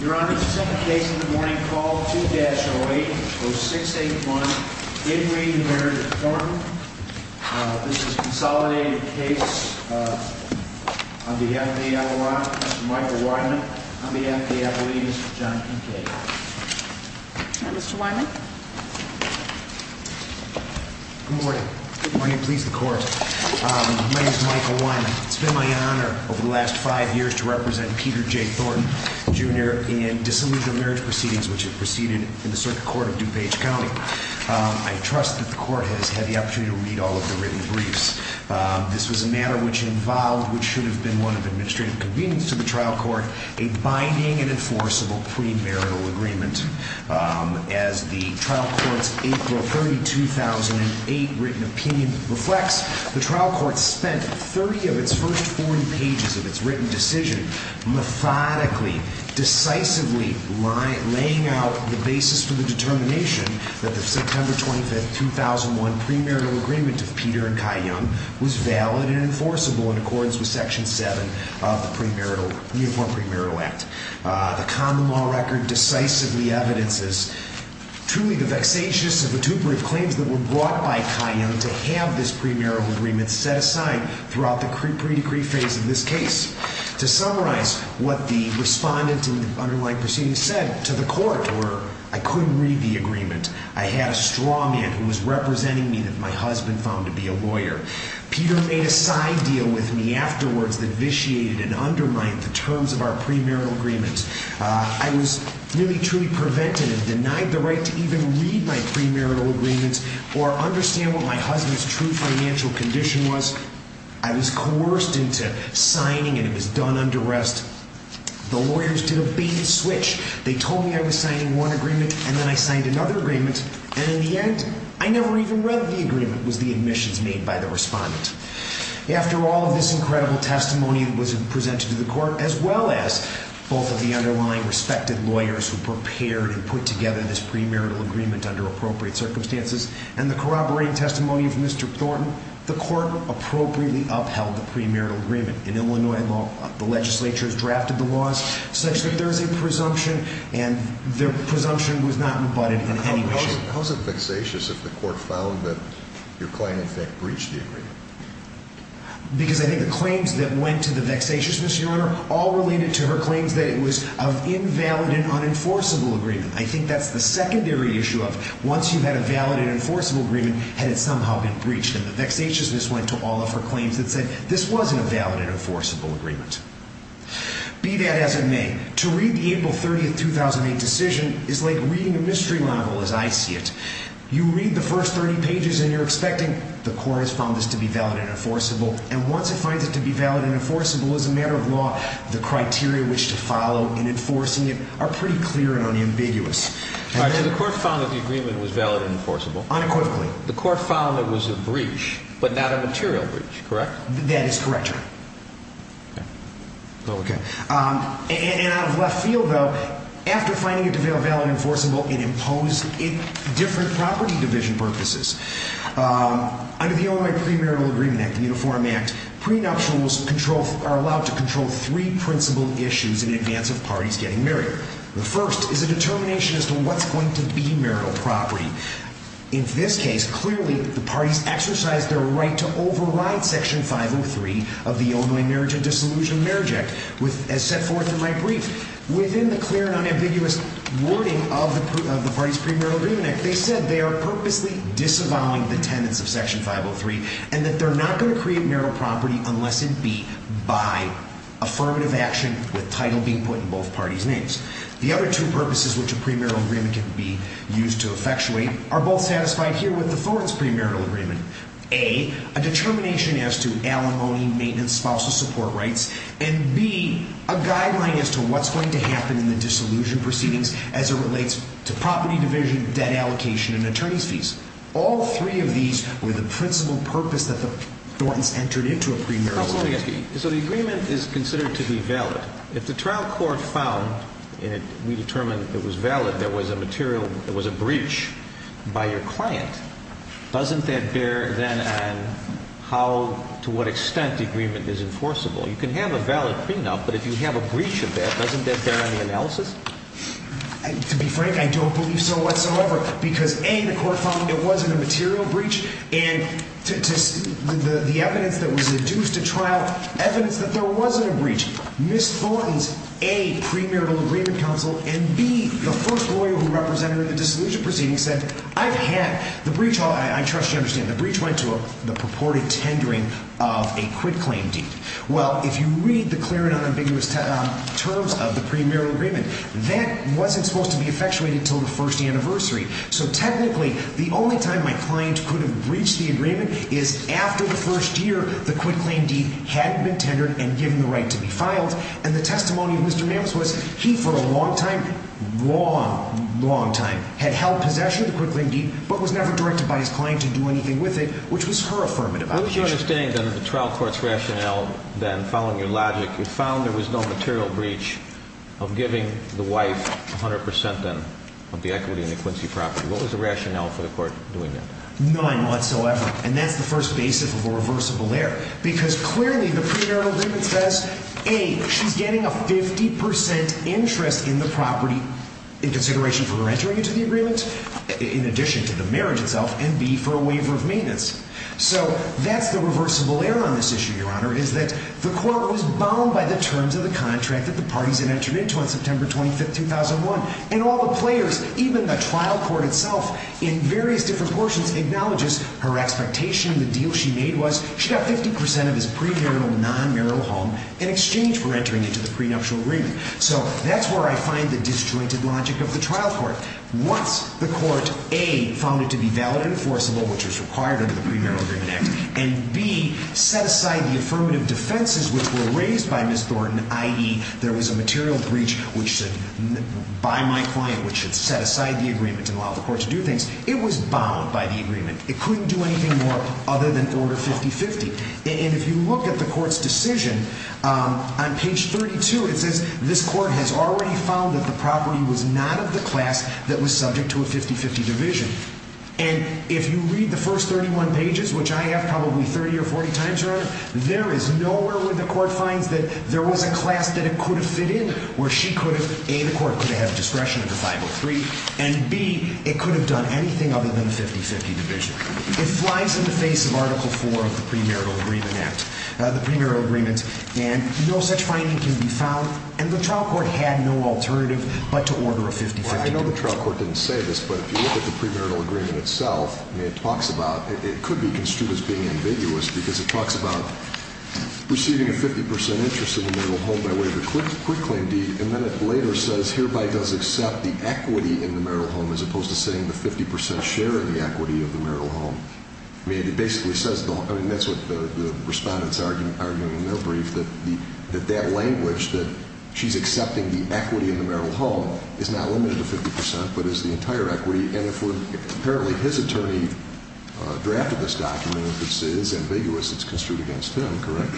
Your Honor, the second case in the morning, call 2-08-0681, in re Marriage of Thornton. This is a consolidated case on behalf of the Avalanche, Mr. Michael Wyman, on behalf of the Avalanches, John Kincaid. Mr. Wyman. Good morning. Good morning. Please, the Court. My name is Michael Wyman. It's been my honor over the last five years to represent Peter J. Thornton, Jr. in disillusional marriage proceedings which have proceeded in the Circuit Court of DuPage County. I trust that the Court has had the opportunity to read all of the written briefs. This was a matter which involved, which should have been one of administrative convenience to the trial court, a binding and enforceable premarital agreement. As the trial court's April 30, 2008 written opinion reflects, the trial court spent 30 of its first 40 pages of its written decision methodically, decisively laying out the basis for the determination that the September 25, 2001 premarital agreement of Peter and Kai Young was valid and enforceable in accordance with Section 7 of the Uniform Premarital Act. The common law record decisively evidences truly the vexatious and vituperative claims that were brought by Kai Young to have this premarital agreement set aside throughout the pre-decree phase of this case. To summarize what the respondent in the underlying proceedings said to the Court were, I couldn't read the agreement. I had a straw man who was representing me that my husband found to be a lawyer. Peter made a side deal with me afterwards that vitiated and undermined the terms of our premarital agreement. I was nearly truly prevented and denied the right to even read my premarital agreement or understand what my husband's true financial condition was. I was coerced into signing and it was done under arrest. The lawyers did a bait and switch. They told me I was signing one agreement and then I signed another agreement. And in the end, I never even read the agreement. It was the admissions made by the respondent. After all of this incredible testimony that was presented to the Court as well as both of the underlying respected lawyers who prepared and put together this premarital agreement under appropriate circumstances and the corroborating testimony of Mr. Thornton, the Court appropriately upheld the premarital agreement. In Illinois law, the legislature has drafted the laws such that there is a presumption and the presumption was not rebutted in any way, shape, or form. How is it vexatious if the Court found that your claim in fact breached the agreement? Because I think the claims that went to the vexatiousness, Your Honor, all related to her claims that it was an invalid and unenforceable agreement. I think that's the secondary issue of once you've had a valid and enforceable agreement, had it somehow been breached. And the vexatiousness went to all of her claims that said this wasn't a valid and enforceable agreement. Be that as it may, to read the April 30, 2008 decision is like reading a mystery novel as I see it. You read the first 30 pages and you're expecting the Court has found this to be valid and enforceable. And once it finds it to be valid and enforceable, as a matter of law, the criteria which to follow in enforcing it are pretty clear and unambiguous. So the Court found that the agreement was valid and enforceable? Unequivocally. The Court found it was a breach, but not a material breach, correct? That is correct, Your Honor. Okay. And out of left field, though, after finding it to be a valid and enforceable, it imposed it different property division purposes. Under the Illinois Pre-Marital Agreement Act, the Uniform Act, prenuptials are allowed to control three principal issues in advance of parties getting married. The first is a determination as to what's going to be marital property. In this case, clearly, the parties exercised their right to override Section 503 of the Illinois Marriage and Dissolution of Marriage Act as set forth in my brief. Within the clear and unambiguous wording of the party's Pre-Marital Agreement Act, they said they are purposely disavowing the tenets of Section 503 and that they're not going to create marital property unless it be by affirmative action with title being put in both parties' names. The other two purposes which a pre-marital agreement can be used to effectuate are both satisfied here with the Thornton's pre-marital agreement. A, a determination as to alimony, maintenance, spousal support rights, and B, a guideline as to what's going to happen in the dissolution proceedings as it relates to property division, debt allocation, and attorney's fees. All three of these were the principal purpose that the Thorntons entered into a pre-marital agreement. So let me ask you, so the agreement is considered to be valid. If the trial court found, and we determined it was valid, there was a material, there was a breach by your client, doesn't that bear then on how, to what extent the agreement is enforceable? You can have a valid prenup, but if you have a breach of that, doesn't that bear on the analysis? To be frank, I don't believe so whatsoever because, A, the court found it wasn't a material breach and the evidence that was deduced at trial, evidence that there wasn't a breach. Ms. Thornton's, A, pre-marital agreement counsel, and B, the first lawyer who represented her in the dissolution proceedings said, I've had, the breach, I trust you understand, the breach went to the purported tendering of a quit-claim deed. Well, if you read the clear and unambiguous terms of the pre-marital agreement, that wasn't supposed to be effectuated until the first anniversary. So technically, the only time my client could have breached the agreement is after the first year the quit-claim deed had been tendered and given the right to be filed, and the testimony of Mr. Mammis was he, for a long time, long, long time, had held possession of the quit-claim deed but was never directed by his client to do anything with it, which was her affirmative action. Well, if you understand the trial court's rationale, then, following your logic, you found there was no material breach of giving the wife 100%, then, of the equity in the Quincy property. What was the rationale for the court doing that? None whatsoever, and that's the first basis of a reversible error, because clearly the pre-marital agreement says, A, she's getting a 50% interest in the property in consideration for her entering into the agreement, in addition to the marriage itself, and B, for a waiver of maintenance. So that's the reversible error on this issue, Your Honor, is that the court was bound by the terms of the contract that the parties had entered into on September 25, 2001, and all the players, even the trial court itself, in various different portions, acknowledges her expectation. The deal she made was she got 50% of his pre-marital and non-marital home in exchange for entering into the prenuptial agreement. So that's where I find the disjointed logic of the trial court. Once the court, A, found it to be valid and enforceable, which was required under the Pre-Marital Agreement Act, and B, set aside the affirmative defenses which were raised by Ms. Thornton, i.e., there was a material breach by my client which should set aside the agreement and allow the court to do things, it was bound by the agreement. It couldn't do anything more other than order 50-50. And if you look at the court's decision, on page 32, it says, this court has already found that the property was not of the class that was subject to a 50-50 division. And if you read the first 31 pages, which I have probably 30 or 40 times around, there is nowhere where the court finds that there was a class that it could have fit in where she could have, A, the court could have discretion under 503, and B, it could have done anything other than a 50-50 division. It flies in the face of Article 4 of the Pre-Marital Agreement Act, the pre-marital agreement, and no such finding can be found, and the trial court had no alternative but to order a 50-50 division. I know the trial court didn't say this, but if you look at the pre-marital agreement itself, it talks about, it could be construed as being ambiguous because it talks about receiving a 50% interest in the marital home by way of a quit-claim deed, and then it later says hereby does accept the equity in the marital home as opposed to saying the 50% share of the equity of the marital home. I mean, it basically says, that's what the respondents are arguing in their brief, that that language, that she's accepting the equity in the marital home is not limited to 50%, but is the entire equity, and apparently his attorney drafted this document, which is ambiguous, it's construed against him, correct?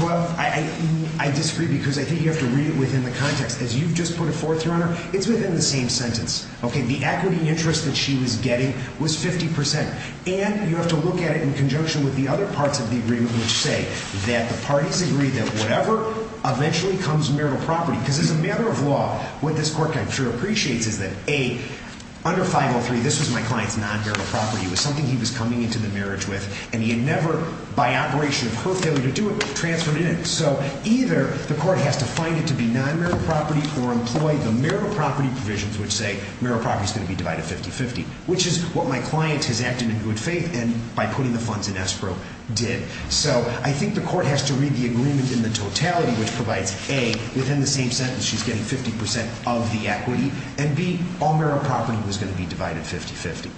Well, I disagree because I think you have to read it within the context. As you've just put it forth, Your Honor, it's within the same sentence. Okay, the equity interest that she was getting was 50%, and you have to look at it in conjunction with the other parts of the agreement, which say that the parties agree that whatever eventually comes marital property, because as a matter of law, what this court, I'm sure, appreciates is that, A, under 503, this was my client's non-marital property. It was something he was coming into the marriage with, and he had never, by operation of her failure to do it, transferred it in. So either the court has to find it to be non-marital property, or employ the marital property provisions, which say marital property is going to be divided 50-50, which is what my client has acted in good faith, and by putting the funds in escrow, did. So I think the court has to read the agreement in the totality, which provides, A, within the same sentence, she's getting 50% of the equity, and B, all marital property was going to be divided 50-50.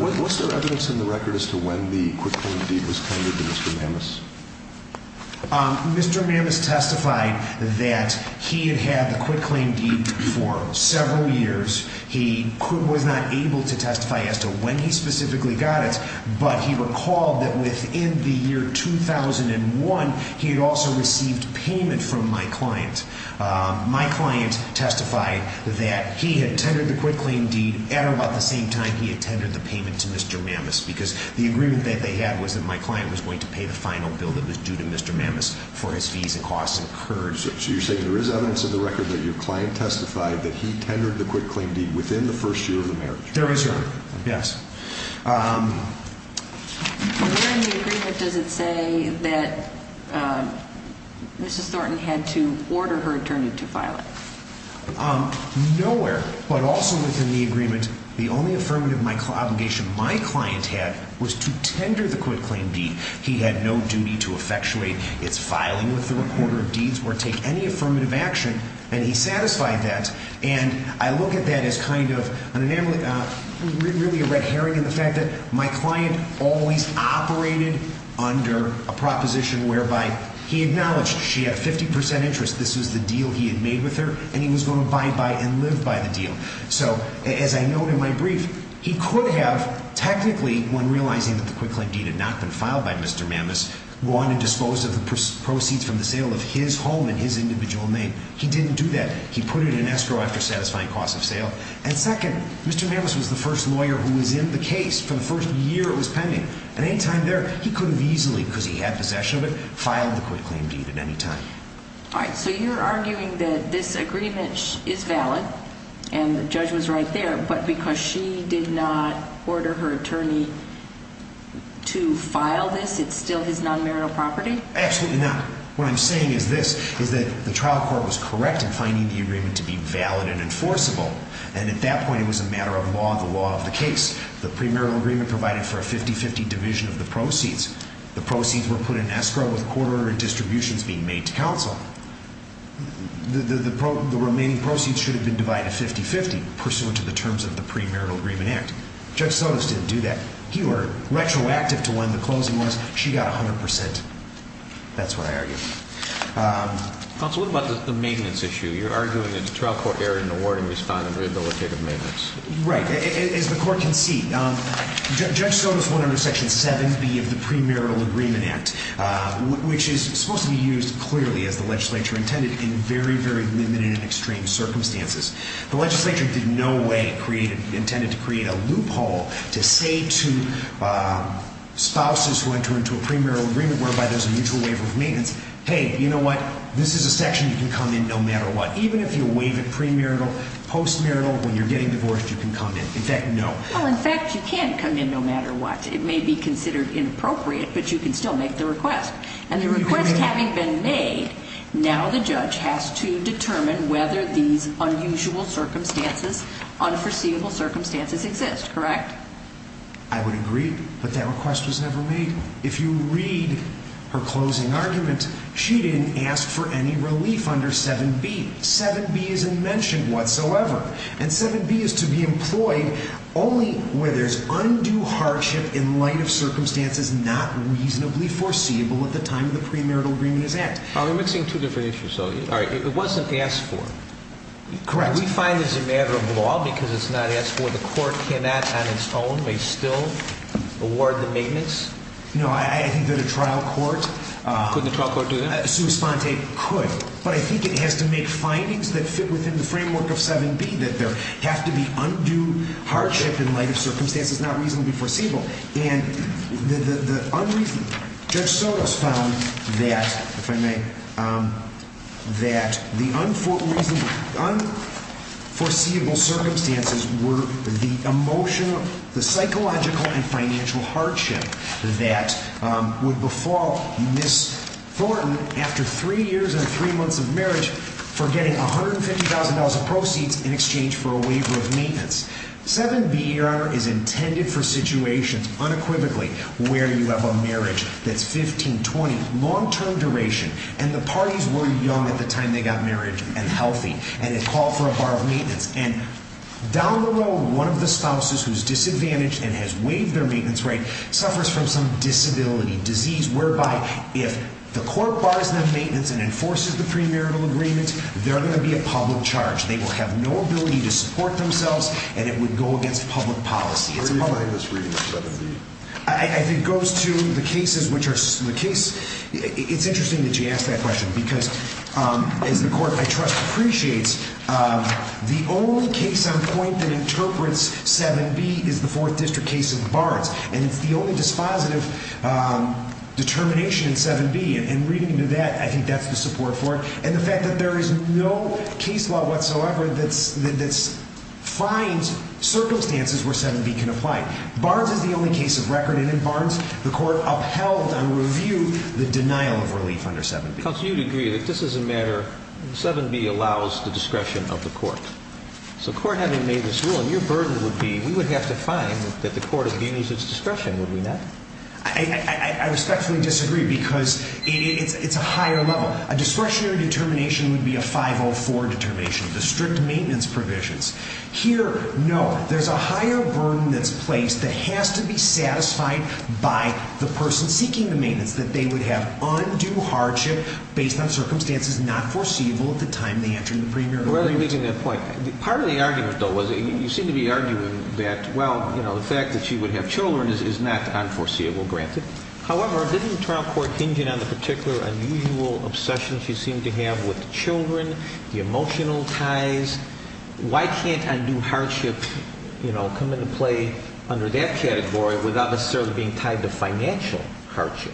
Was there evidence in the record as to when the Quitcoin deed was tendered to Mr. Mammis? Mr. Mammis testified that he had had the Quitclaim deed for several years. He was not able to testify as to when he specifically got it, but he recalled that within the year 2001, he had also received payment from my client. My client testified that he had tendered the Quitclaim deed at about the same time he had tendered the payment to Mr. Mammis, because the agreement that they had was that my client was going to pay the final bill that was due to Mr. Mammis for his fees and costs incurred. So you're saying there is evidence in the record that your client testified that he tendered the Quitclaim deed within the first year of the marriage? There is, Your Honor. Yes. Within the agreement, does it say that Mrs. Thornton had to order her attorney to file it? Nowhere, but also within the agreement, the only affirmative obligation my client had was to tender the Quitclaim deed. He had no duty to effectuate its filing with the reporter of deeds or take any affirmative action, and he satisfied that. And I look at that as kind of really a red herring in the fact that my client always operated under a proposition whereby he acknowledged she had 50 percent interest, this was the deal he had made with her, and he was going to abide by and live by the deal. So, as I note in my brief, he could have, technically, when realizing that the Quitclaim deed had not been filed by Mr. Mammis, won and disposed of the proceeds from the sale of his home in his individual name. He didn't do that. He put it in escrow after satisfying costs of sale. And second, Mr. Mammis was the first lawyer who was in the case for the first year it was pending. At any time there, he could have easily, because he had possession of it, filed the Quitclaim deed at any time. All right, so you're arguing that this agreement is valid, and the judge was right there, but because she did not order her attorney to file this, it's still his non-marital property? Absolutely not. What I'm saying is this, is that the trial court was correct in finding the agreement to be valid and enforceable. And at that point, it was a matter of law, the law of the case. The premarital agreement provided for a 50-50 division of the proceeds. The proceeds were put in escrow with court order and distributions being made to counsel. The remaining proceeds should have been divided 50-50, pursuant to the terms of the premarital agreement act. Judge Sotos didn't do that. He ordered retroactive to when the closing was. She got 100%. That's what I argue. Counsel, what about the maintenance issue? You're arguing that the trial court erred in awarding respondent rehabilitative maintenance. Right. As the court can see, Judge Sotos wanted Section 7B of the premarital agreement act, which is supposed to be used clearly, as the legislature intended, in very, very limited and extreme circumstances. The legislature did no way intended to create a loophole to say to spouses who enter into a premarital agreement, whereby there's a mutual waiver of maintenance, hey, you know what, this is a section you can come in no matter what. Even if you waive it premarital, postmarital, when you're getting divorced, you can come in. In fact, no. Well, in fact, you can come in no matter what. It may be considered inappropriate, but you can still make the request. And the request having been made, now the judge has to determine whether these unusual circumstances, unforeseeable circumstances exist, correct? I would agree, but that request was never made. If you read her closing argument, she didn't ask for any relief under 7B. 7B isn't mentioned whatsoever. And 7B is to be employed only where there's undue hardship in light of circumstances not reasonably foreseeable at the time the premarital agreement is at. We're mixing two different issues, though. It wasn't asked for. Correct. We find this a matter of law because it's not asked for. The court cannot, on its own, may still award the maintenance? No, I think that a trial court Could the trial court do that? I assume Spontae could, but I think it has to make findings that fit within the framework of 7B, that there has to be undue hardship in light of circumstances not reasonably foreseeable. Judge Sotos found that the unforeseeable circumstances were the emotional, the psychological and financial hardship that would befall Ms. Thornton after three years and three months of marriage for getting $150,000 of proceeds in exchange for a waiver of maintenance. 7B, Your Honor, is intended for situations unequivocally where you have a marriage that's 15, 20, long-term duration and the parties were young at the time they got married and healthy and they call for a bar of maintenance. And down the road, one of the spouses who's disadvantaged and has waived their maintenance rate suffers from some disability, disease, whereby if the court bars their maintenance and enforces the premarital agreement, they're going to be a public charge. They will have no ability to support themselves and it would go against public policy. Where do you lay this reading in 7B? I think it goes to the cases which are, the case, it's interesting that you ask that question because as the court I trust appreciates, the only case on point that interprets 7B is the 4th District case of Barnes and it's the only dispositive determination in 7B and reading into that, I think that's the support for it and the fact that there is no case law whatsoever that finds circumstances where 7B can apply. Barnes is the only case of record and in Barnes, the court upheld and reviewed the denial of relief under 7B. Counsel, you'd agree that this is a matter, 7B allows the discretion of the court. So the court having made this ruling, your burden would be, we would have to find that the court abunes its discretion, would we not? I respectfully disagree because it's a higher level. Well, a discretionary determination would be a 504 determination, the strict maintenance provisions. Here, no, there's a higher burden that's placed that has to be satisfied by the person seeking the maintenance, that they would have undue hardship based on circumstances not foreseeable at the time they entered the premium. Rather than making that point, part of the argument though was, you seem to be arguing that, well, the fact that she would have children is not unforeseeable, granted. However, didn't the trial court hinge in on the particular unusual obsession she seemed to have with the children, the emotional ties? Why can't undue hardship, you know, come into play under that category without necessarily being tied to financial hardship?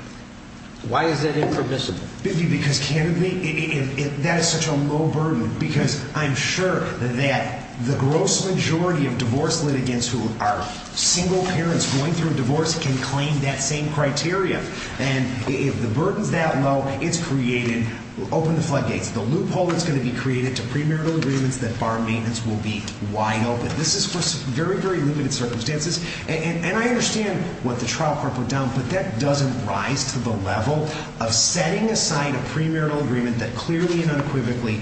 Why is that impermissible? Biffy, because candidly, that is such a low burden because I'm sure that the gross majority of divorce litigants who are single parents going through a divorce can claim that same criteria. And if the burden's that low, it's created, open the floodgates. The loophole that's going to be created to premarital agreements that bar maintenance will be wide open. This is for very, very limited circumstances. And I understand what the trial court put down, but that doesn't rise to the level of setting aside a premarital agreement that clearly and unequivocally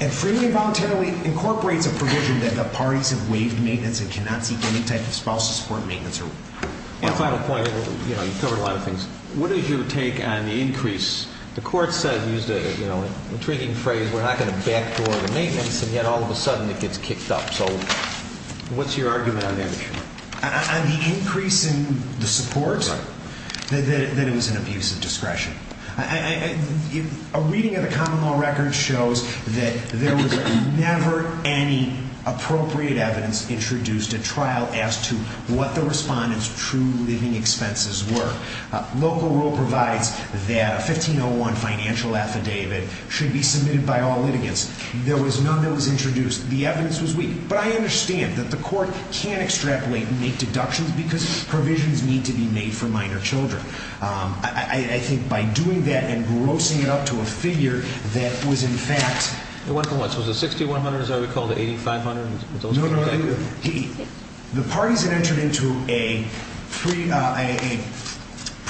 and freely and voluntarily incorporates a provision that the parties have waived maintenance and cannot seek any type of spousal support and maintenance. One final point, you know, you covered a lot of things. What is your take on the increase? The court said, used an intriguing phrase, we're not going to backdoor the maintenance, and yet all of a sudden it gets kicked up. So what's your argument on that issue? On the increase in the support? Right. That it was an abuse of discretion. A reading of the common law record shows that there was never any appropriate evidence introduced at trial as to what the respondent's true living expenses were. Local rule provides that a 1501 financial affidavit should be submitted by all litigants. There was none that was introduced. The evidence was weak. But I understand that the court can extrapolate and make deductions because provisions need to be made for minor children. I think by doing that and grossing it up to a figure that was in fact It went from what? It was a 6100, as I recall, to 8500? No, no, no. The parties had entered into a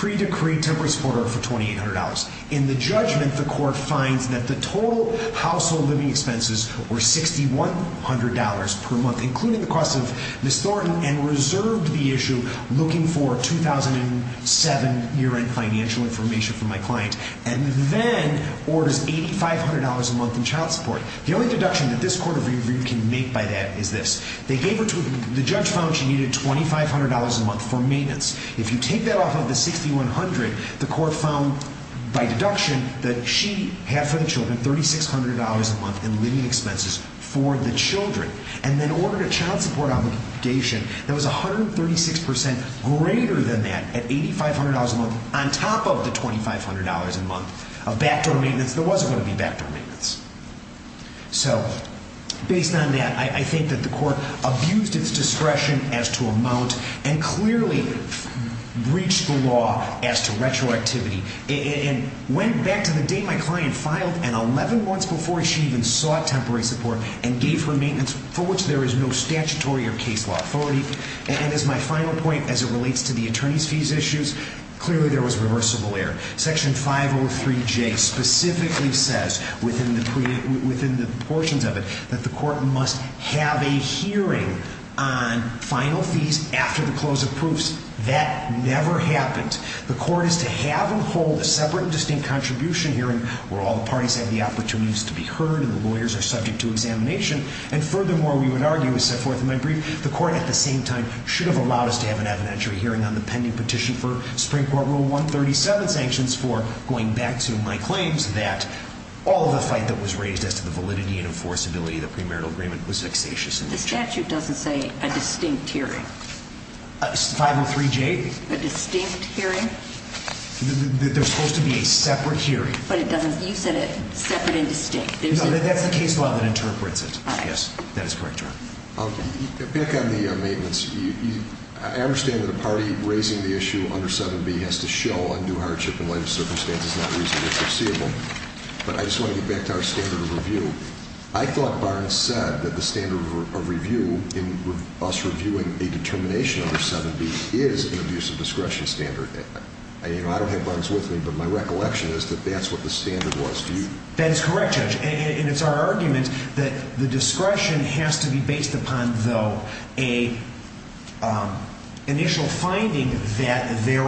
pre-decreed temporary support order for $2,800. In the judgment, the court finds that the total household living expenses were $6,100 per month, including the costs of Ms. Thornton, and reserved the issue looking for 2007 year-end financial information from my client, and then orders $8,500 a month in child support. The only deduction that this court can make by that is this. The judge found she needed $2,500 a month for maintenance. If you take that off of the 6100, the court found by deduction that she had for the children $3,600 a month in living expenses for the children. And then ordered a child support obligation that was 136% greater than that at $8,500 a month, on top of the $2,500 a month of backdoor maintenance that wasn't going to be backdoor maintenance. So, based on that, I think that the court abused its discretion as to amount and clearly breached the law as to retroactivity. And went back to the day my client filed, and 11 months before, she even sought temporary support and gave her maintenance, for which there is no statutory or case law authority. And as my final point, as it relates to the attorney's fees issues, clearly there was reversible error. Section 503J specifically says, within the portions of it, that the court must have a hearing on final fees after the close of proofs. That never happened. The court is to have and hold a separate and distinct contribution hearing where all the parties have the opportunities to be heard, and the lawyers are subject to examination. And furthermore, we would argue, as set forth in my brief, the court at the same time should have allowed us to have an evidentiary hearing on the pending petition for Supreme Court Rule 137 sanctions for going back to my claims that all of the fight that was raised as to the validity and enforceability of the premarital agreement was vexatious in nature. The statute doesn't say a distinct hearing. 503J? A distinct hearing? There's supposed to be a separate hearing. But it doesn't, you said it, separate and distinct. No, that's the case law that interprets it. All right. Yes, that is correct, Your Honor. Back on the maintenance, I understand that a party raising the issue under 7B has to show undue hardship in light of circumstances not reasonably foreseeable. But I just want to get back to our standard of review. I thought Barnes said that the standard of review in us reviewing a determination under 7B is an abuse of discretion standard. I don't have Barnes with me, but my recollection is that that's what the standard was. That is correct, Judge, and it's our argument that the discretion has to be based upon, though, an initial finding that there's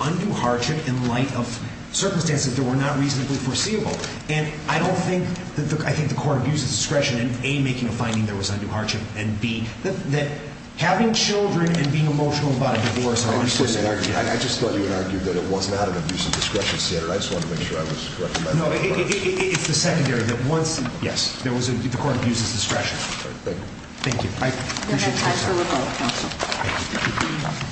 undue hardship in light of circumstances that were not reasonably foreseeable. And I don't think that the court abuses discretion in, A, making a finding there was undue hardship, and, B, that having children and being emotional about a divorce are understandable. I just thought you had argued that it wasn't out of abuse of discretion standard. I just wanted to make sure I was correct in my thought about that. No, it's the secondary, that once, yes, the court abuses discretion. All right, thank you. Thank you. I appreciate your time. Counsel.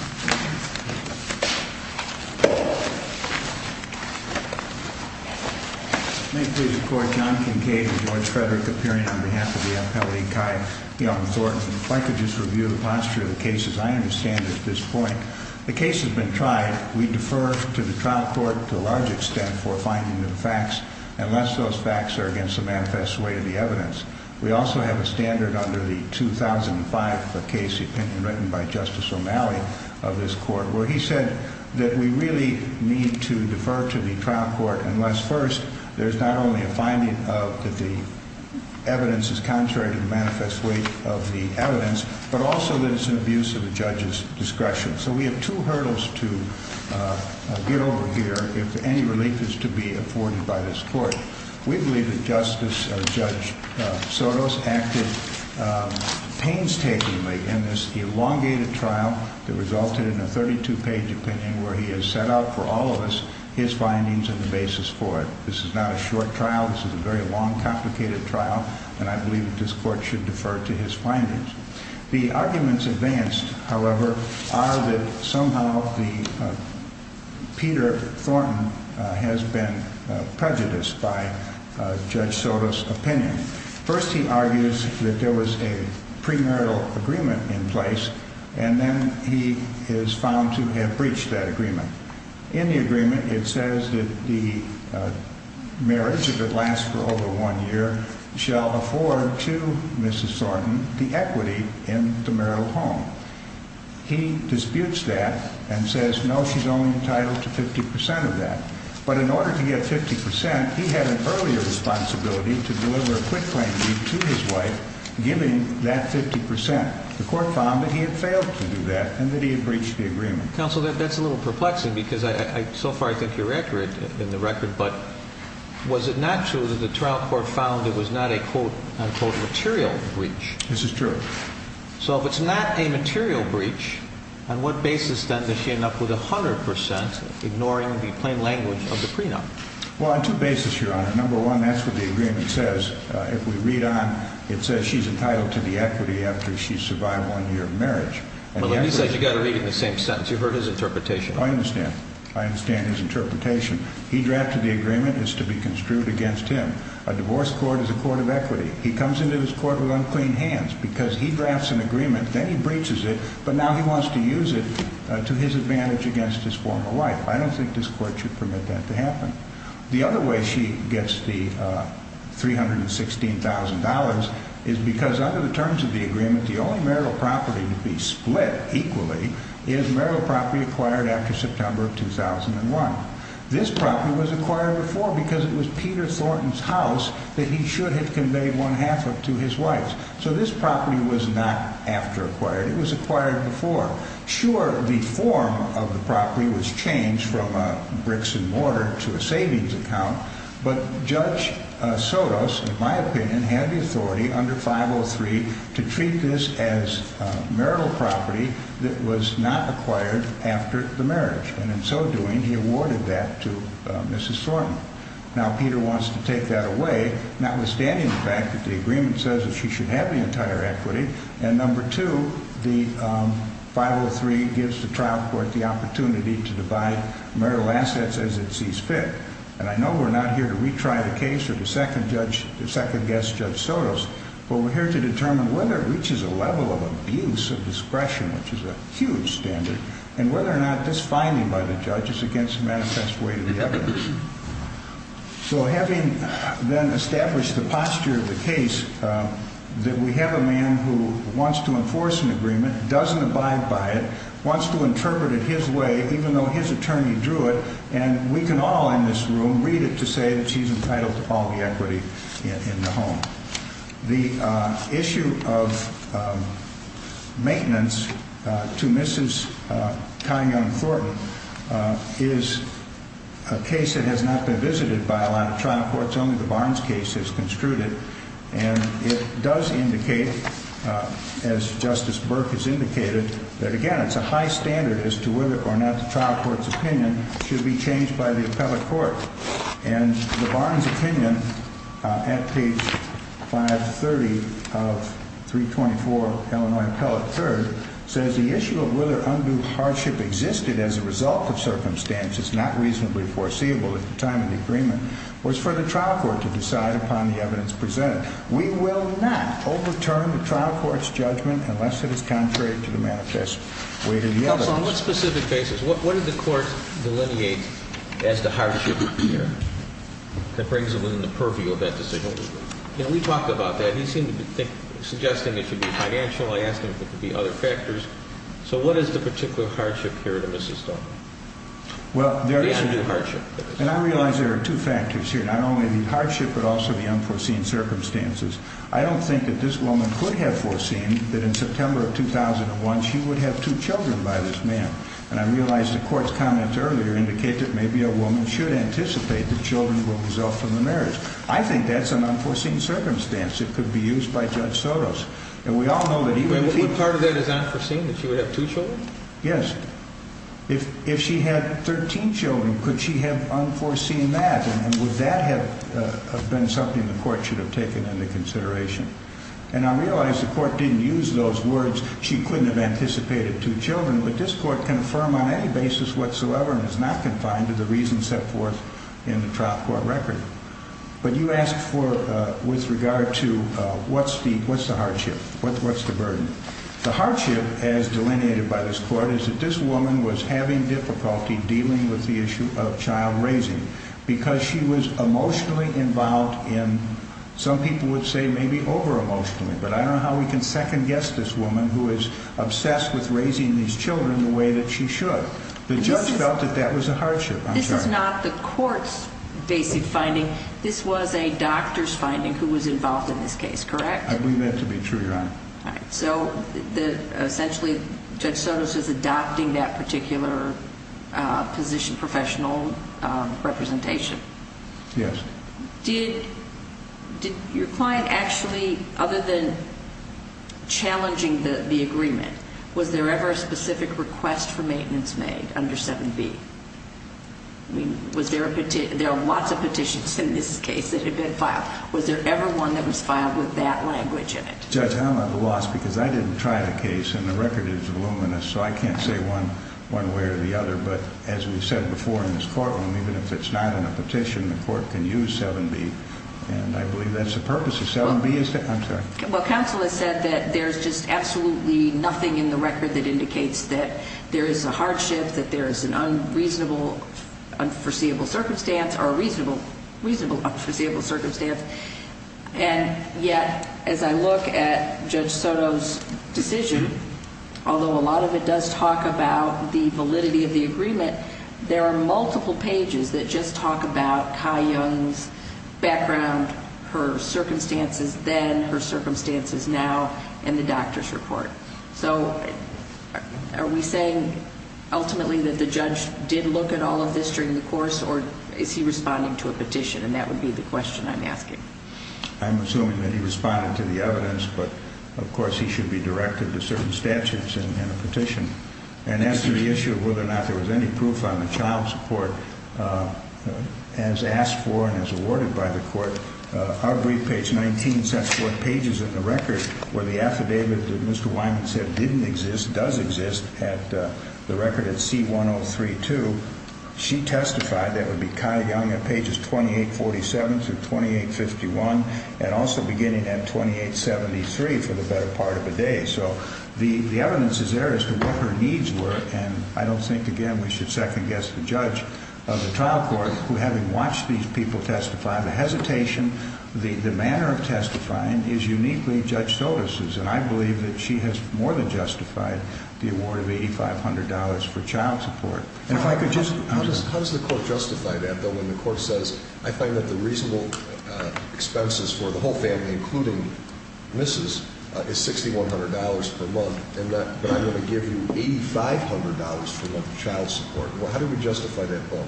May it please the Court. John Kincaid and George Frederick appearing on behalf of the Appellate E. Chi Young Court. If I could just review the posture of the cases. I understand at this point the case has been tried. We defer to the trial court to a large extent for finding of the facts unless those facts are against the manifest way of the evidence. We also have a standard under the 2005 case opinion written by Justice O'Malley of this court where he said that we really need to defer to the trial court unless, first, there's not only a finding of that the evidence is contrary to the manifest way of the evidence, but also that it's an abuse of the judge's discretion. So we have two hurdles to get over here if any relief is to be afforded by this court. We believe that Justice Judge Sotos acted painstakingly in this elongated trial that resulted in a 32-page opinion where he has set out for all of us his findings and the basis for it. This is not a short trial. This is a very long, complicated trial, and I believe that this court should defer to his findings. The arguments advanced, however, are that somehow Peter Thornton has been prejudiced by Judge Sotos' opinion. First, he argues that there was a premarital agreement in place, and then he is found to have breached that agreement. In the agreement, it says that the marriage, if it lasts for over one year, shall afford to Mrs. Thornton the equity in the marital home. He disputes that and says, no, she's only entitled to 50 percent of that. But in order to get 50 percent, he had an earlier responsibility to deliver a quit claim deed to his wife, giving that 50 percent. The court found that he had failed to do that and that he had breached the agreement. Counsel, that's a little perplexing because so far I think you're accurate in the record. But was it not true that the trial court found it was not a, quote, unquote, material breach? This is true. So if it's not a material breach, on what basis, then, does she end up with 100 percent, ignoring the plain language of the prenup? Well, on two bases, Your Honor. Number one, that's what the agreement says. If we read on, it says she's entitled to the equity after she's survived one year of marriage. But let me say, you've got to read it in the same sentence. You've heard his interpretation. I understand. I understand his interpretation. He drafted the agreement as to be construed against him. A divorce court is a court of equity. He comes into his court with unclean hands because he drafts an agreement, then he breaches it, but now he wants to use it to his advantage against his former wife. I don't think this court should permit that to happen. The other way she gets the $316,000 is because under the terms of the agreement, the only marital property to be split equally is marital property acquired after September of 2001. This property was acquired before because it was Peter Thornton's house that he should have conveyed one half of to his wife. So this property was not after acquired. It was acquired before. Sure, the form of the property was changed from bricks and mortar to a savings account, but Judge Sotos, in my opinion, had the authority under 503 to treat this as marital property that was not acquired after the marriage. And in so doing, he awarded that to Mrs. Thornton. Now, Peter wants to take that away, notwithstanding the fact that the agreement says that she should have the entire equity. And number two, the 503 gives the trial court the opportunity to divide marital assets as it sees fit. And I know we're not here to retry the case of the second judge, the second guest, Judge Sotos, but we're here to determine whether it reaches a level of abuse of discretion, which is a huge standard, and whether or not this finding by the judge is against the manifest weight of the evidence. So having then established the posture of the case, that we have a man who wants to enforce an agreement, doesn't abide by it, wants to interpret it his way, even though his attorney drew it, and we can all in this room read it to say that she's entitled to all the equity in the home. The issue of maintenance to Mrs. Thornton is a case that has not been visited by a lot of trial courts. Only the Barnes case is construed. And it does indicate, as Justice Burke has indicated, that, again, it's a high standard as to whether or not the trial court's opinion should be changed by the appellate court. And the Barnes opinion, at page 530 of 324 Illinois Appellate 3rd, says the issue of whether undue hardship existed as a result of circumstances not reasonably foreseeable at the time of the agreement was for the trial court to decide upon the evidence presented. We will not overturn the trial court's judgment unless it is contrary to the manifest weight of the evidence. On what specific basis? What did the court delineate as the hardship here that brings it within the purview of that decision? You know, we talked about that. He seemed to be suggesting it should be financial. I asked him if it could be other factors. So what is the particular hardship here to Mrs. Thornton? Well, there is undue hardship. And I realize there are two factors here, not only the hardship but also the unforeseen circumstances. I don't think that this woman could have foreseen that in September of 2001 she would have two children by this man. And I realize the court's comments earlier indicate that maybe a woman should anticipate that children will result from the marriage. I think that's an unforeseen circumstance. It could be used by Judge Sotos. And we all know that even if he – But part of that is unforeseen, that she would have two children? Yes. If she had 13 children, could she have unforeseen that? And would that have been something the court should have taken into consideration? And I realize the court didn't use those words, she couldn't have anticipated two children, but this court can affirm on any basis whatsoever and is not confined to the reasons set forth in the trial court record. But you asked with regard to what's the hardship, what's the burden. The hardship, as delineated by this court, is that this woman was having difficulty dealing with the issue of child raising because she was emotionally involved in, some people would say maybe over-emotionally, but I don't know how we can second-guess this woman who is obsessed with raising these children the way that she should. The judge felt that that was a hardship. This is not the court's basic finding. This was a doctor's finding who was involved in this case, correct? I believe that to be true, Your Honor. All right. So essentially Judge Sotos was adopting that particular position, professional representation. Yes. Did your client actually, other than challenging the agreement, was there ever a specific request for maintenance made under 7B? I mean, there are lots of petitions in this case that have been filed. Was there ever one that was filed with that language in it? Judge, I'm at a loss because I didn't try the case, and the record is voluminous, so I can't say one way or the other, but as we've said before in this courtroom, even if it's not in a petition, the court can use 7B, and I believe that's the purpose of 7B. I'm sorry. Well, counsel has said that there's just absolutely nothing in the record that indicates that there is a hardship, that there is an unreasonable, unforeseeable circumstance, or a reasonable unforeseeable circumstance, and yet as I look at Judge Sotos' decision, although a lot of it does talk about the validity of the agreement, there are multiple pages that just talk about Kai Young's background, her circumstances then, her circumstances now, and the doctor's report. So are we saying ultimately that the judge did look at all of this during the course, or is he responding to a petition, and that would be the question I'm asking. I'm assuming that he responded to the evidence, but, of course, he should be directed to certain statutes and a petition. And as to the issue of whether or not there was any proof on the child's report, as asked for and as awarded by the court, our brief page 19 sets forth pages in the record where the affidavit that Mr. Wyman said didn't exist, does exist, the record at C1032, she testified, that would be Kai Young at pages 2847 through 2851, and also beginning at 2873 for the better part of a day. So the evidence is there as to what her needs were, and I don't think, again, we should second-guess the judge of the trial court who, having watched these people testify, the hesitation, the manner of testifying is uniquely Judge Sotos'. And I believe that she has more than justified the award of $8,500 for child support. And if I could just... How does the court justify that, though, when the court says, I find that the reasonable expenses for the whole family, including Mrs., is $6,100 per month, and that I'm going to give you $8,500 for child support? How do we justify that vote?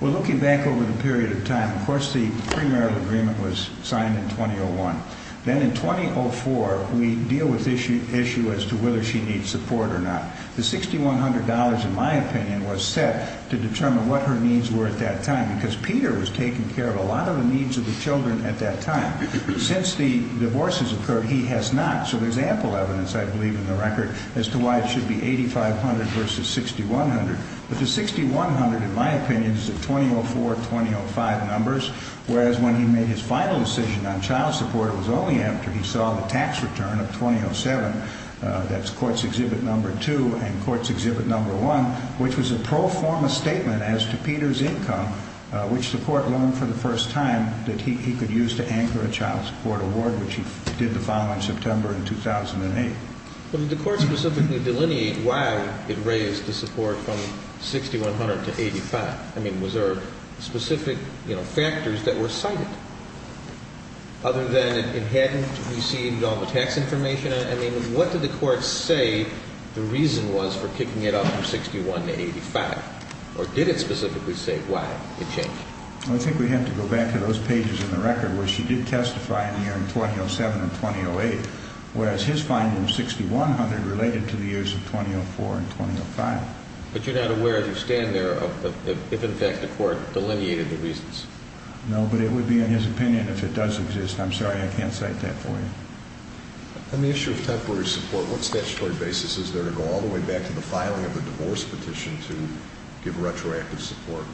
Well, looking back over the period of time, of course, the premarital agreement was signed in 2001. Then in 2004, we deal with the issue as to whether she needs support or not. The $6,100, in my opinion, was set to determine what her needs were at that time because Peter was taking care of a lot of the needs of the children at that time. Since the divorces occurred, he has not. So there's ample evidence, I believe, in the record as to why it should be $8,500 versus $6,100. But the $6,100, in my opinion, is the 2004-2005 numbers, whereas when he made his final decision on child support, it was only after he saw the tax return of 2007, that's Courts Exhibit No. 2 and Courts Exhibit No. 1, which was a pro forma statement as to Peter's income, which the court loaned for the first time that he could use to anchor a child support award, which he did the following September in 2008. But did the court specifically delineate why it raised the support from $6,100 to $8,500? I mean, was there specific factors that were cited other than it hadn't received all the tax information? I mean, what did the court say the reason was for kicking it up from $6,100 to $8,500? Or did it specifically say why it changed? I think we have to go back to those pages in the record where she did testify in the year of 2007 and 2008, whereas his finding of $6,100 related to the years of 2004 and 2005. But you're not aware, as you stand there, if in fact the court delineated the reasons? No, but it would be in his opinion if it does exist. I'm sorry, I can't cite that for you. On the issue of temporary support, what statutory basis is there to go all the way back to the filing of a divorce petition to give retroactive support?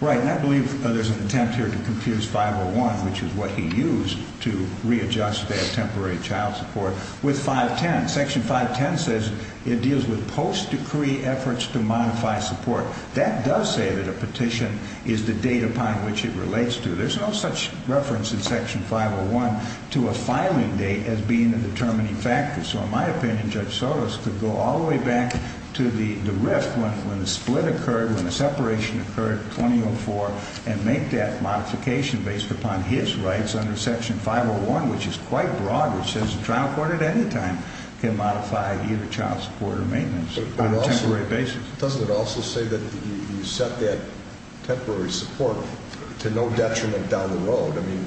Right, and I believe there's an attempt here to confuse 501, which is what he used to readjust that temporary child support, with 510. Section 510 says it deals with post-decree efforts to modify support. That does say that a petition is the date upon which it relates to. There's no such reference in Section 501 to a filing date as being the determining factor. So in my opinion, Judge Sotos could go all the way back to the rift when the split occurred, when the separation occurred in 2004, and make that modification based upon his rights under Section 501, which is quite broad, which says the trial court at any time can modify either child support or maintenance on a temporary basis. Doesn't it also say that you set that temporary support to no detriment down the road? I mean,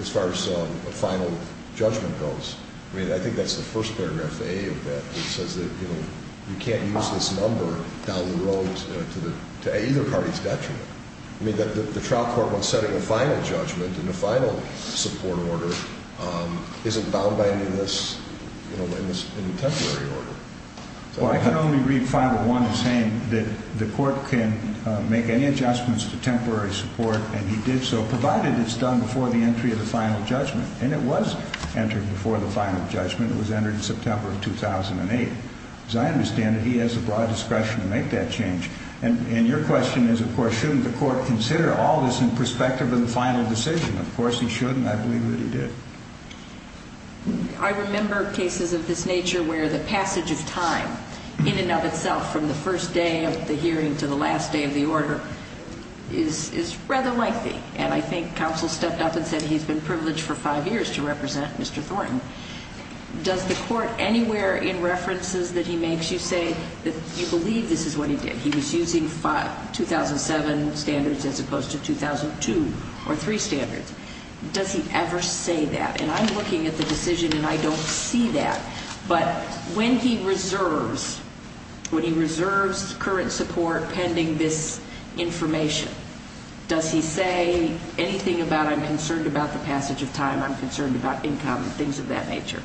as far as a final judgment goes, I mean, I think that's the first paragraph of A of that, which says that you can't use this number down the road to either party's detriment. I mean, the trial court, when setting a final judgment and a final support order, isn't bound by any of this, you know, any temporary order. Well, I can only read Final 1 as saying that the court can make any adjustments to temporary support, and he did so, provided it's done before the entry of the final judgment. And it was entered before the final judgment. It was entered in September of 2008. As I understand it, he has the broad discretion to make that change. And your question is, of course, shouldn't the court consider all this in perspective of the final decision? Of course, he shouldn't. I believe that he did. I remember cases of this nature where the passage of time in and of itself, from the first day of the hearing to the last day of the order, is rather lengthy. And I think counsel stepped up and said he's been privileged for five years to represent Mr. Thornton. Does the court anywhere in references that he makes you say that you believe this is what he did? That he was using 2007 standards as opposed to 2002 or 2003 standards? Does he ever say that? And I'm looking at the decision, and I don't see that. But when he reserves current support pending this information, does he say anything about I'm concerned about the passage of time, I'm concerned about income and things of that nature?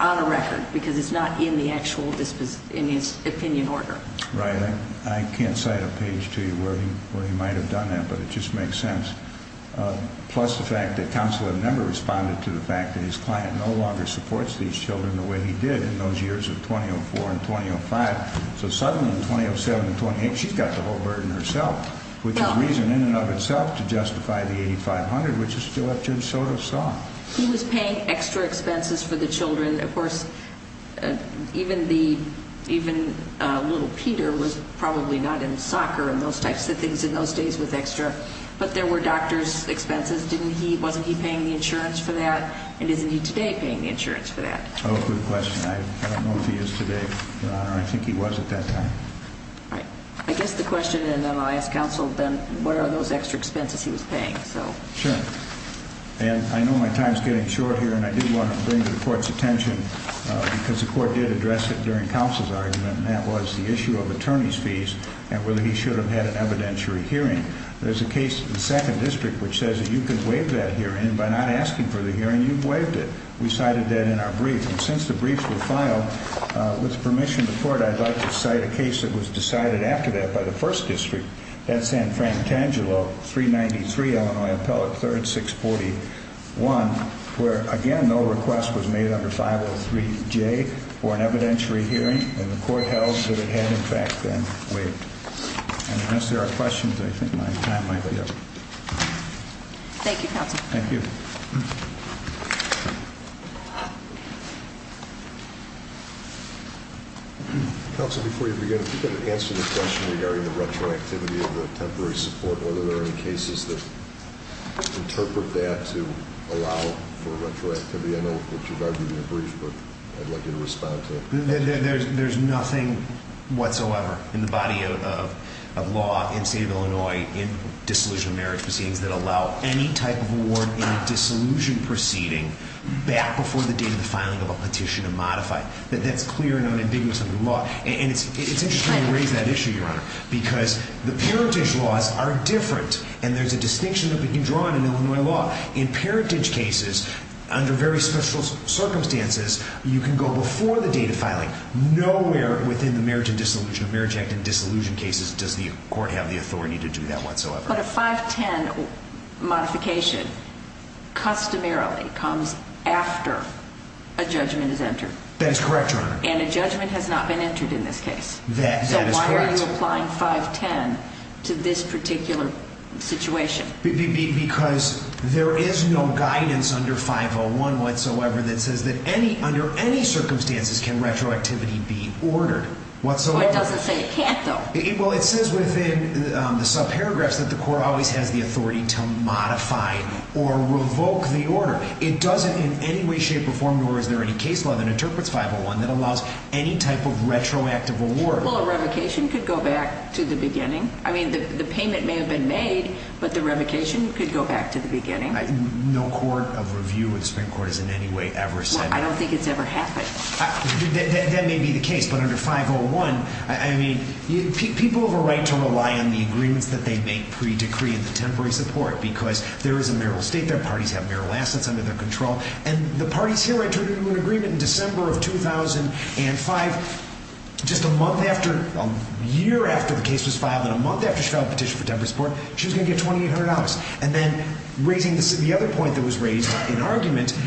On a record, because it's not in the actual opinion order. Right. I can't cite a page to you where he might have done that, but it just makes sense. Plus the fact that counsel had never responded to the fact that his client no longer supports these children the way he did in those years of 2004 and 2005. So suddenly in 2007 and 2008, she's got the whole burden herself with the reason in and of itself to justify the $8,500, which is still what Judge Soto saw. He was paying extra expenses for the children. And, of course, even little Peter was probably not in soccer and those types of things in those days with extra. But there were doctors' expenses. Wasn't he paying the insurance for that? And isn't he today paying the insurance for that? Oh, good question. I don't know if he is today, Your Honor. I think he was at that time. Right. I guess the question, and then I'll ask counsel, then, what are those extra expenses he was paying? Sure. And I know my time is getting short here, and I did want to bring to the Court's attention because the Court did address it during counsel's argument, and that was the issue of attorney's fees and whether he should have had an evidentiary hearing. There's a case in the Second District which says that you could waive that hearing by not asking for the hearing. You've waived it. We cited that in our brief. And since the briefs were filed, with permission of the Court, I'd like to cite a case that was decided after that by the First District. That's San Frantangelo, 393 Illinois, Appellate 3rd, 641, where, again, no request was made under 503J for an evidentiary hearing, and the Court held that it had, in fact, been waived. And unless there are questions, I think my time might be up. Thank you, counsel. Thank you. Counsel, before you begin, if you could answer the question regarding the retroactivity of the temporary support and whether there are any cases that interpret that to allow for retroactivity. I know that your argument is brief, but I'd like you to respond to it. There's nothing whatsoever in the body of law in the state of Illinois in dissolution of marriage proceedings that allow any type of award in a dissolution proceeding back before the date of the filing of a petition to modify. That's clear and unambiguous under the law. And it's interesting you raise that issue, Your Honor, because the parentage laws are different, and there's a distinction that we can draw on in Illinois law. In parentage cases, under very special circumstances, you can go before the date of filing. Nowhere within the marriage act and dissolution cases does the Court have the authority to do that whatsoever. But a 510 modification customarily comes after a judgment is entered. That is correct, Your Honor. And a judgment has not been entered in this case. That is correct. So why are you applying 510 to this particular situation? Because there is no guidance under 501 whatsoever that says that under any circumstances can retroactivity be ordered whatsoever. Well, it doesn't say it can't, though. Well, it says within the subparagraphs that the Court always has the authority to modify or revoke the order. It doesn't in any way, shape, or form, nor is there any case law that interprets 501 that allows any type of retroactive award. Well, a revocation could go back to the beginning. I mean, the payment may have been made, but the revocation could go back to the beginning. No court of review in the Supreme Court has in any way ever said that. Well, I don't think it's ever happened. That may be the case. But under 501, I mean, people have a right to rely on the agreements that they make pre-decree and the temporary support because there is a marital estate, their parties have marital assets under their control. And the parties here, I turned into an agreement in December of 2005, just a month after, a year after the case was filed, and a month after she filed a petition for temporary support, she was going to get $2,800. And then, raising the other point that was raised in argument,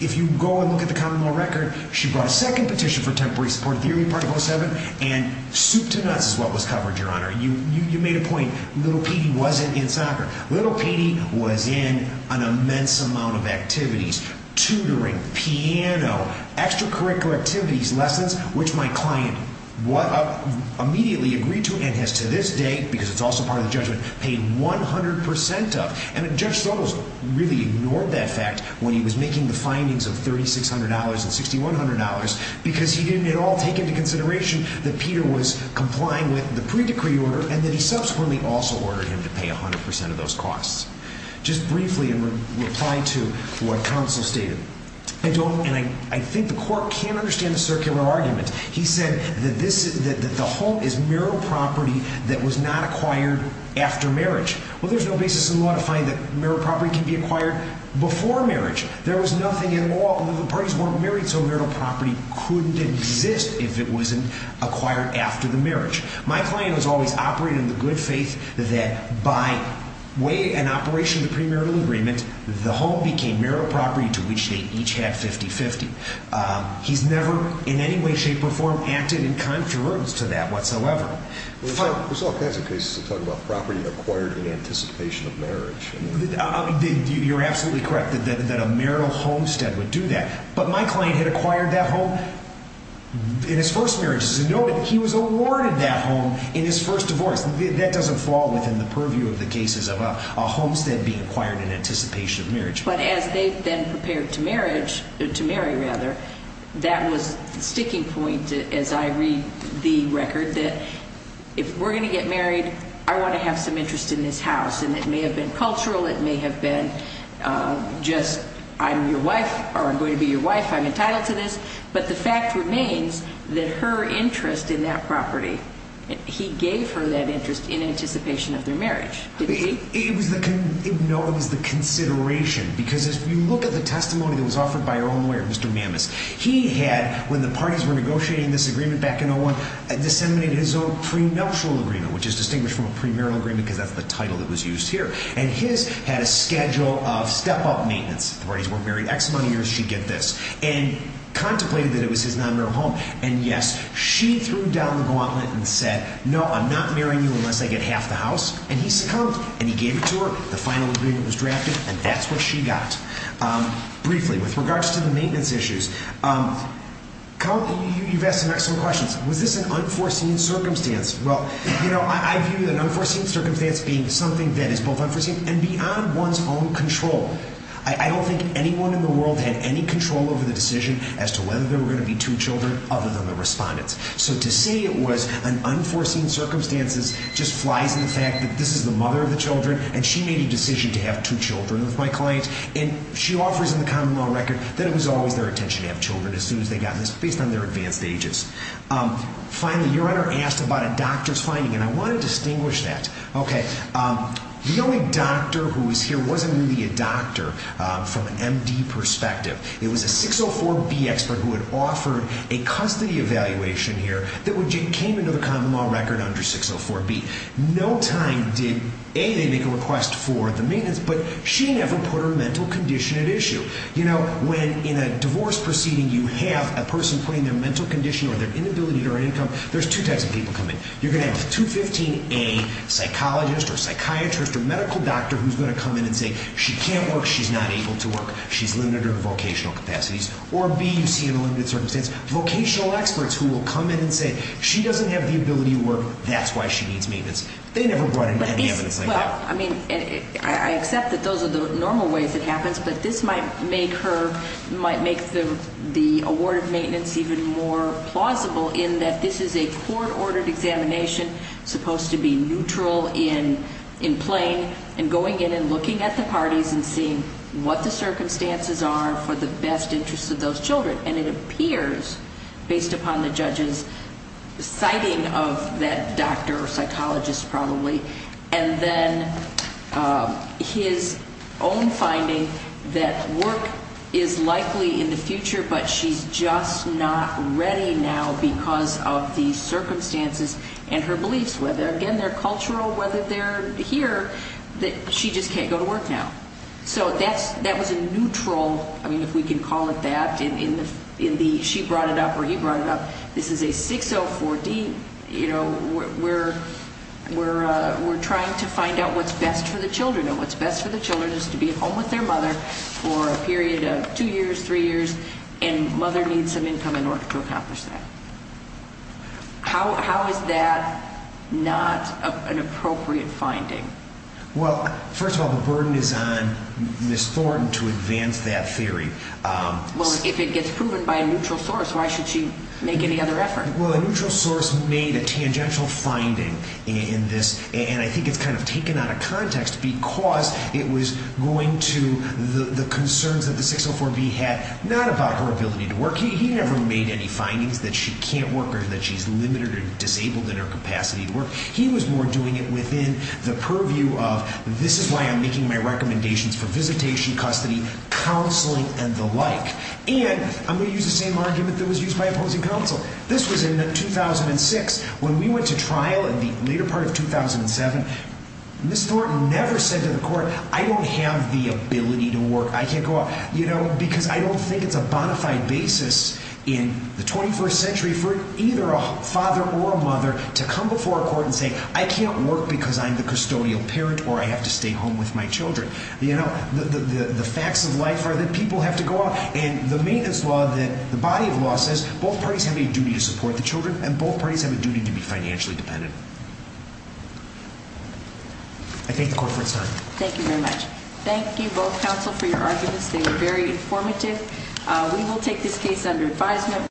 if you go and look at the common law record, she brought a second petition for temporary support at the early part of 2007, and soup to nuts is what was covered, Your Honor. You made a point. Little Petey wasn't in soccer. Little Petey was in an immense amount of activities, tutoring, piano, extracurricular activities, lessons, which my client immediately agreed to and has to this day, because it's also part of the judgment, paid 100% of. And Judge Sotos really ignored that fact when he was making the findings of $3,600 and $6,100 because he didn't at all take into consideration that Peter was complying with the pre-decree order and that he subsequently also ordered him to pay 100% of those costs. Just briefly, in reply to what counsel stated, and I think the court can understand the circular argument, he said that the home is marital property that was not acquired after marriage. Well, there's no basis in law to find that marital property can be acquired before marriage. There was nothing at all, the parties weren't married, so marital property couldn't exist if it wasn't acquired after the marriage. My client was always operating in the good faith that by way and operation of the premarital agreement, the home became marital property to which they each had 50-50. He's never in any way, shape, or form acted in contrariance to that whatsoever. There's all kinds of cases that talk about property acquired in anticipation of marriage. You're absolutely correct that a marital homestead would do that. But my client had acquired that home in his first marriage. It's noted that he was awarded that home in his first divorce. That doesn't fall within the purview of the cases of a homestead being acquired in anticipation of marriage. But as they've been prepared to marry, that was the sticking point as I read the record, that if we're going to get married, I want to have some interest in this house. And it may have been cultural. It may have been just I'm your wife or I'm going to be your wife. I'm entitled to this. But the fact remains that her interest in that property, he gave her that interest in anticipation of their marriage, didn't he? It was the consideration because if you look at the testimony that was offered by our own lawyer, Mr. Mammis, he had, when the parties were negotiating this agreement back in 01, disseminated his own premarital agreement, which is distinguished from a premarital agreement because that's the title that was used here. And his had a schedule of step-up maintenance. If the parties weren't married X amount of years, she'd get this. And contemplated that it was his non-marital home. And, yes, she threw down the gauntlet and said, no, I'm not marrying you unless I get half the house. And he succumbed. And he gave it to her. The final agreement was drafted. And that's what she got. Briefly, with regards to the maintenance issues, you've asked some excellent questions. Was this an unforeseen circumstance? Well, you know, I view an unforeseen circumstance being something that is both unforeseen and beyond one's own control. I don't think anyone in the world had any control over the decision as to whether there were going to be two children other than the respondents. So to say it was an unforeseen circumstance just flies in the fact that this is the mother of the children, and she made a decision to have two children with my client. And she offers in the common law record that it was always their intention to have children as soon as they got this, based on their advanced ages. Finally, your Honor asked about a doctor's finding, and I want to distinguish that. Okay. The only doctor who was here wasn't really a doctor from an MD perspective. It was a 604B expert who had offered a custody evaluation here that came into the common law record under 604B. No time did, A, they make a request for the maintenance, but she never put her mental condition at issue. You know, when in a divorce proceeding you have a person putting their mental condition or their inability to earn income, there's two types of people come in. You're going to have 215A psychologist or psychiatrist or medical doctor who's going to come in and say, she can't work, she's not able to work, she's limited her vocational capacities. Or B, you see in a limited circumstance, vocational experts who will come in and say, she doesn't have the ability to work, that's why she needs maintenance. They never brought in any evidence like that. Well, I mean, I accept that those are the normal ways it happens, but this might make her, might make the award of maintenance even more plausible in that this is a court-ordered examination, supposed to be neutral in plain, and going in and looking at the parties and seeing what the circumstances are for the best interest of those children. And it appears, based upon the judge's citing of that doctor or psychologist probably, and then his own finding that work is likely in the future, but she's just not ready now because of the circumstances and her beliefs, whether, again, they're cultural, whether they're here, that she just can't go to work now. So that was a neutral, I mean, if we can call it that, in the she brought it up or he brought it up, this is a 604D, you know, we're trying to find out what's best for the children, and what's best for the children is to be at home with their mother for a period of two years, three years, and mother needs some income in order to accomplish that. How is that not an appropriate finding? Well, first of all, the burden is on Ms. Thornton to advance that theory. Well, if it gets proven by a neutral source, why should she make any other effort? Well, a neutral source made a tangential finding in this, and I think it's kind of taken out of context because it was going to the concerns that the 604B had, not about her ability to work. He never made any findings that she can't work or that she's limited or disabled in her capacity to work. He was more doing it within the purview of this is why I'm making my recommendations for visitation, custody, counseling, and the like. And I'm going to use the same argument that was used by opposing counsel. This was in 2006. When we went to trial in the later part of 2007, Ms. Thornton never said to the court, I don't have the ability to work, I can't go out, you know, because I don't think it's a bona fide basis in the 21st century for either a father or a mother to come before a court and say, I can't work because I'm the custodial parent or I have to stay home with my children. You know, the facts of life are that people have to go out. And the maintenance law, the body of law says both parties have a duty to support the children and both parties have a duty to be financially dependent. I thank the court for its time. Thank you very much. Thank you both counsel for your arguments. They were very informative. We will take this case under advisement.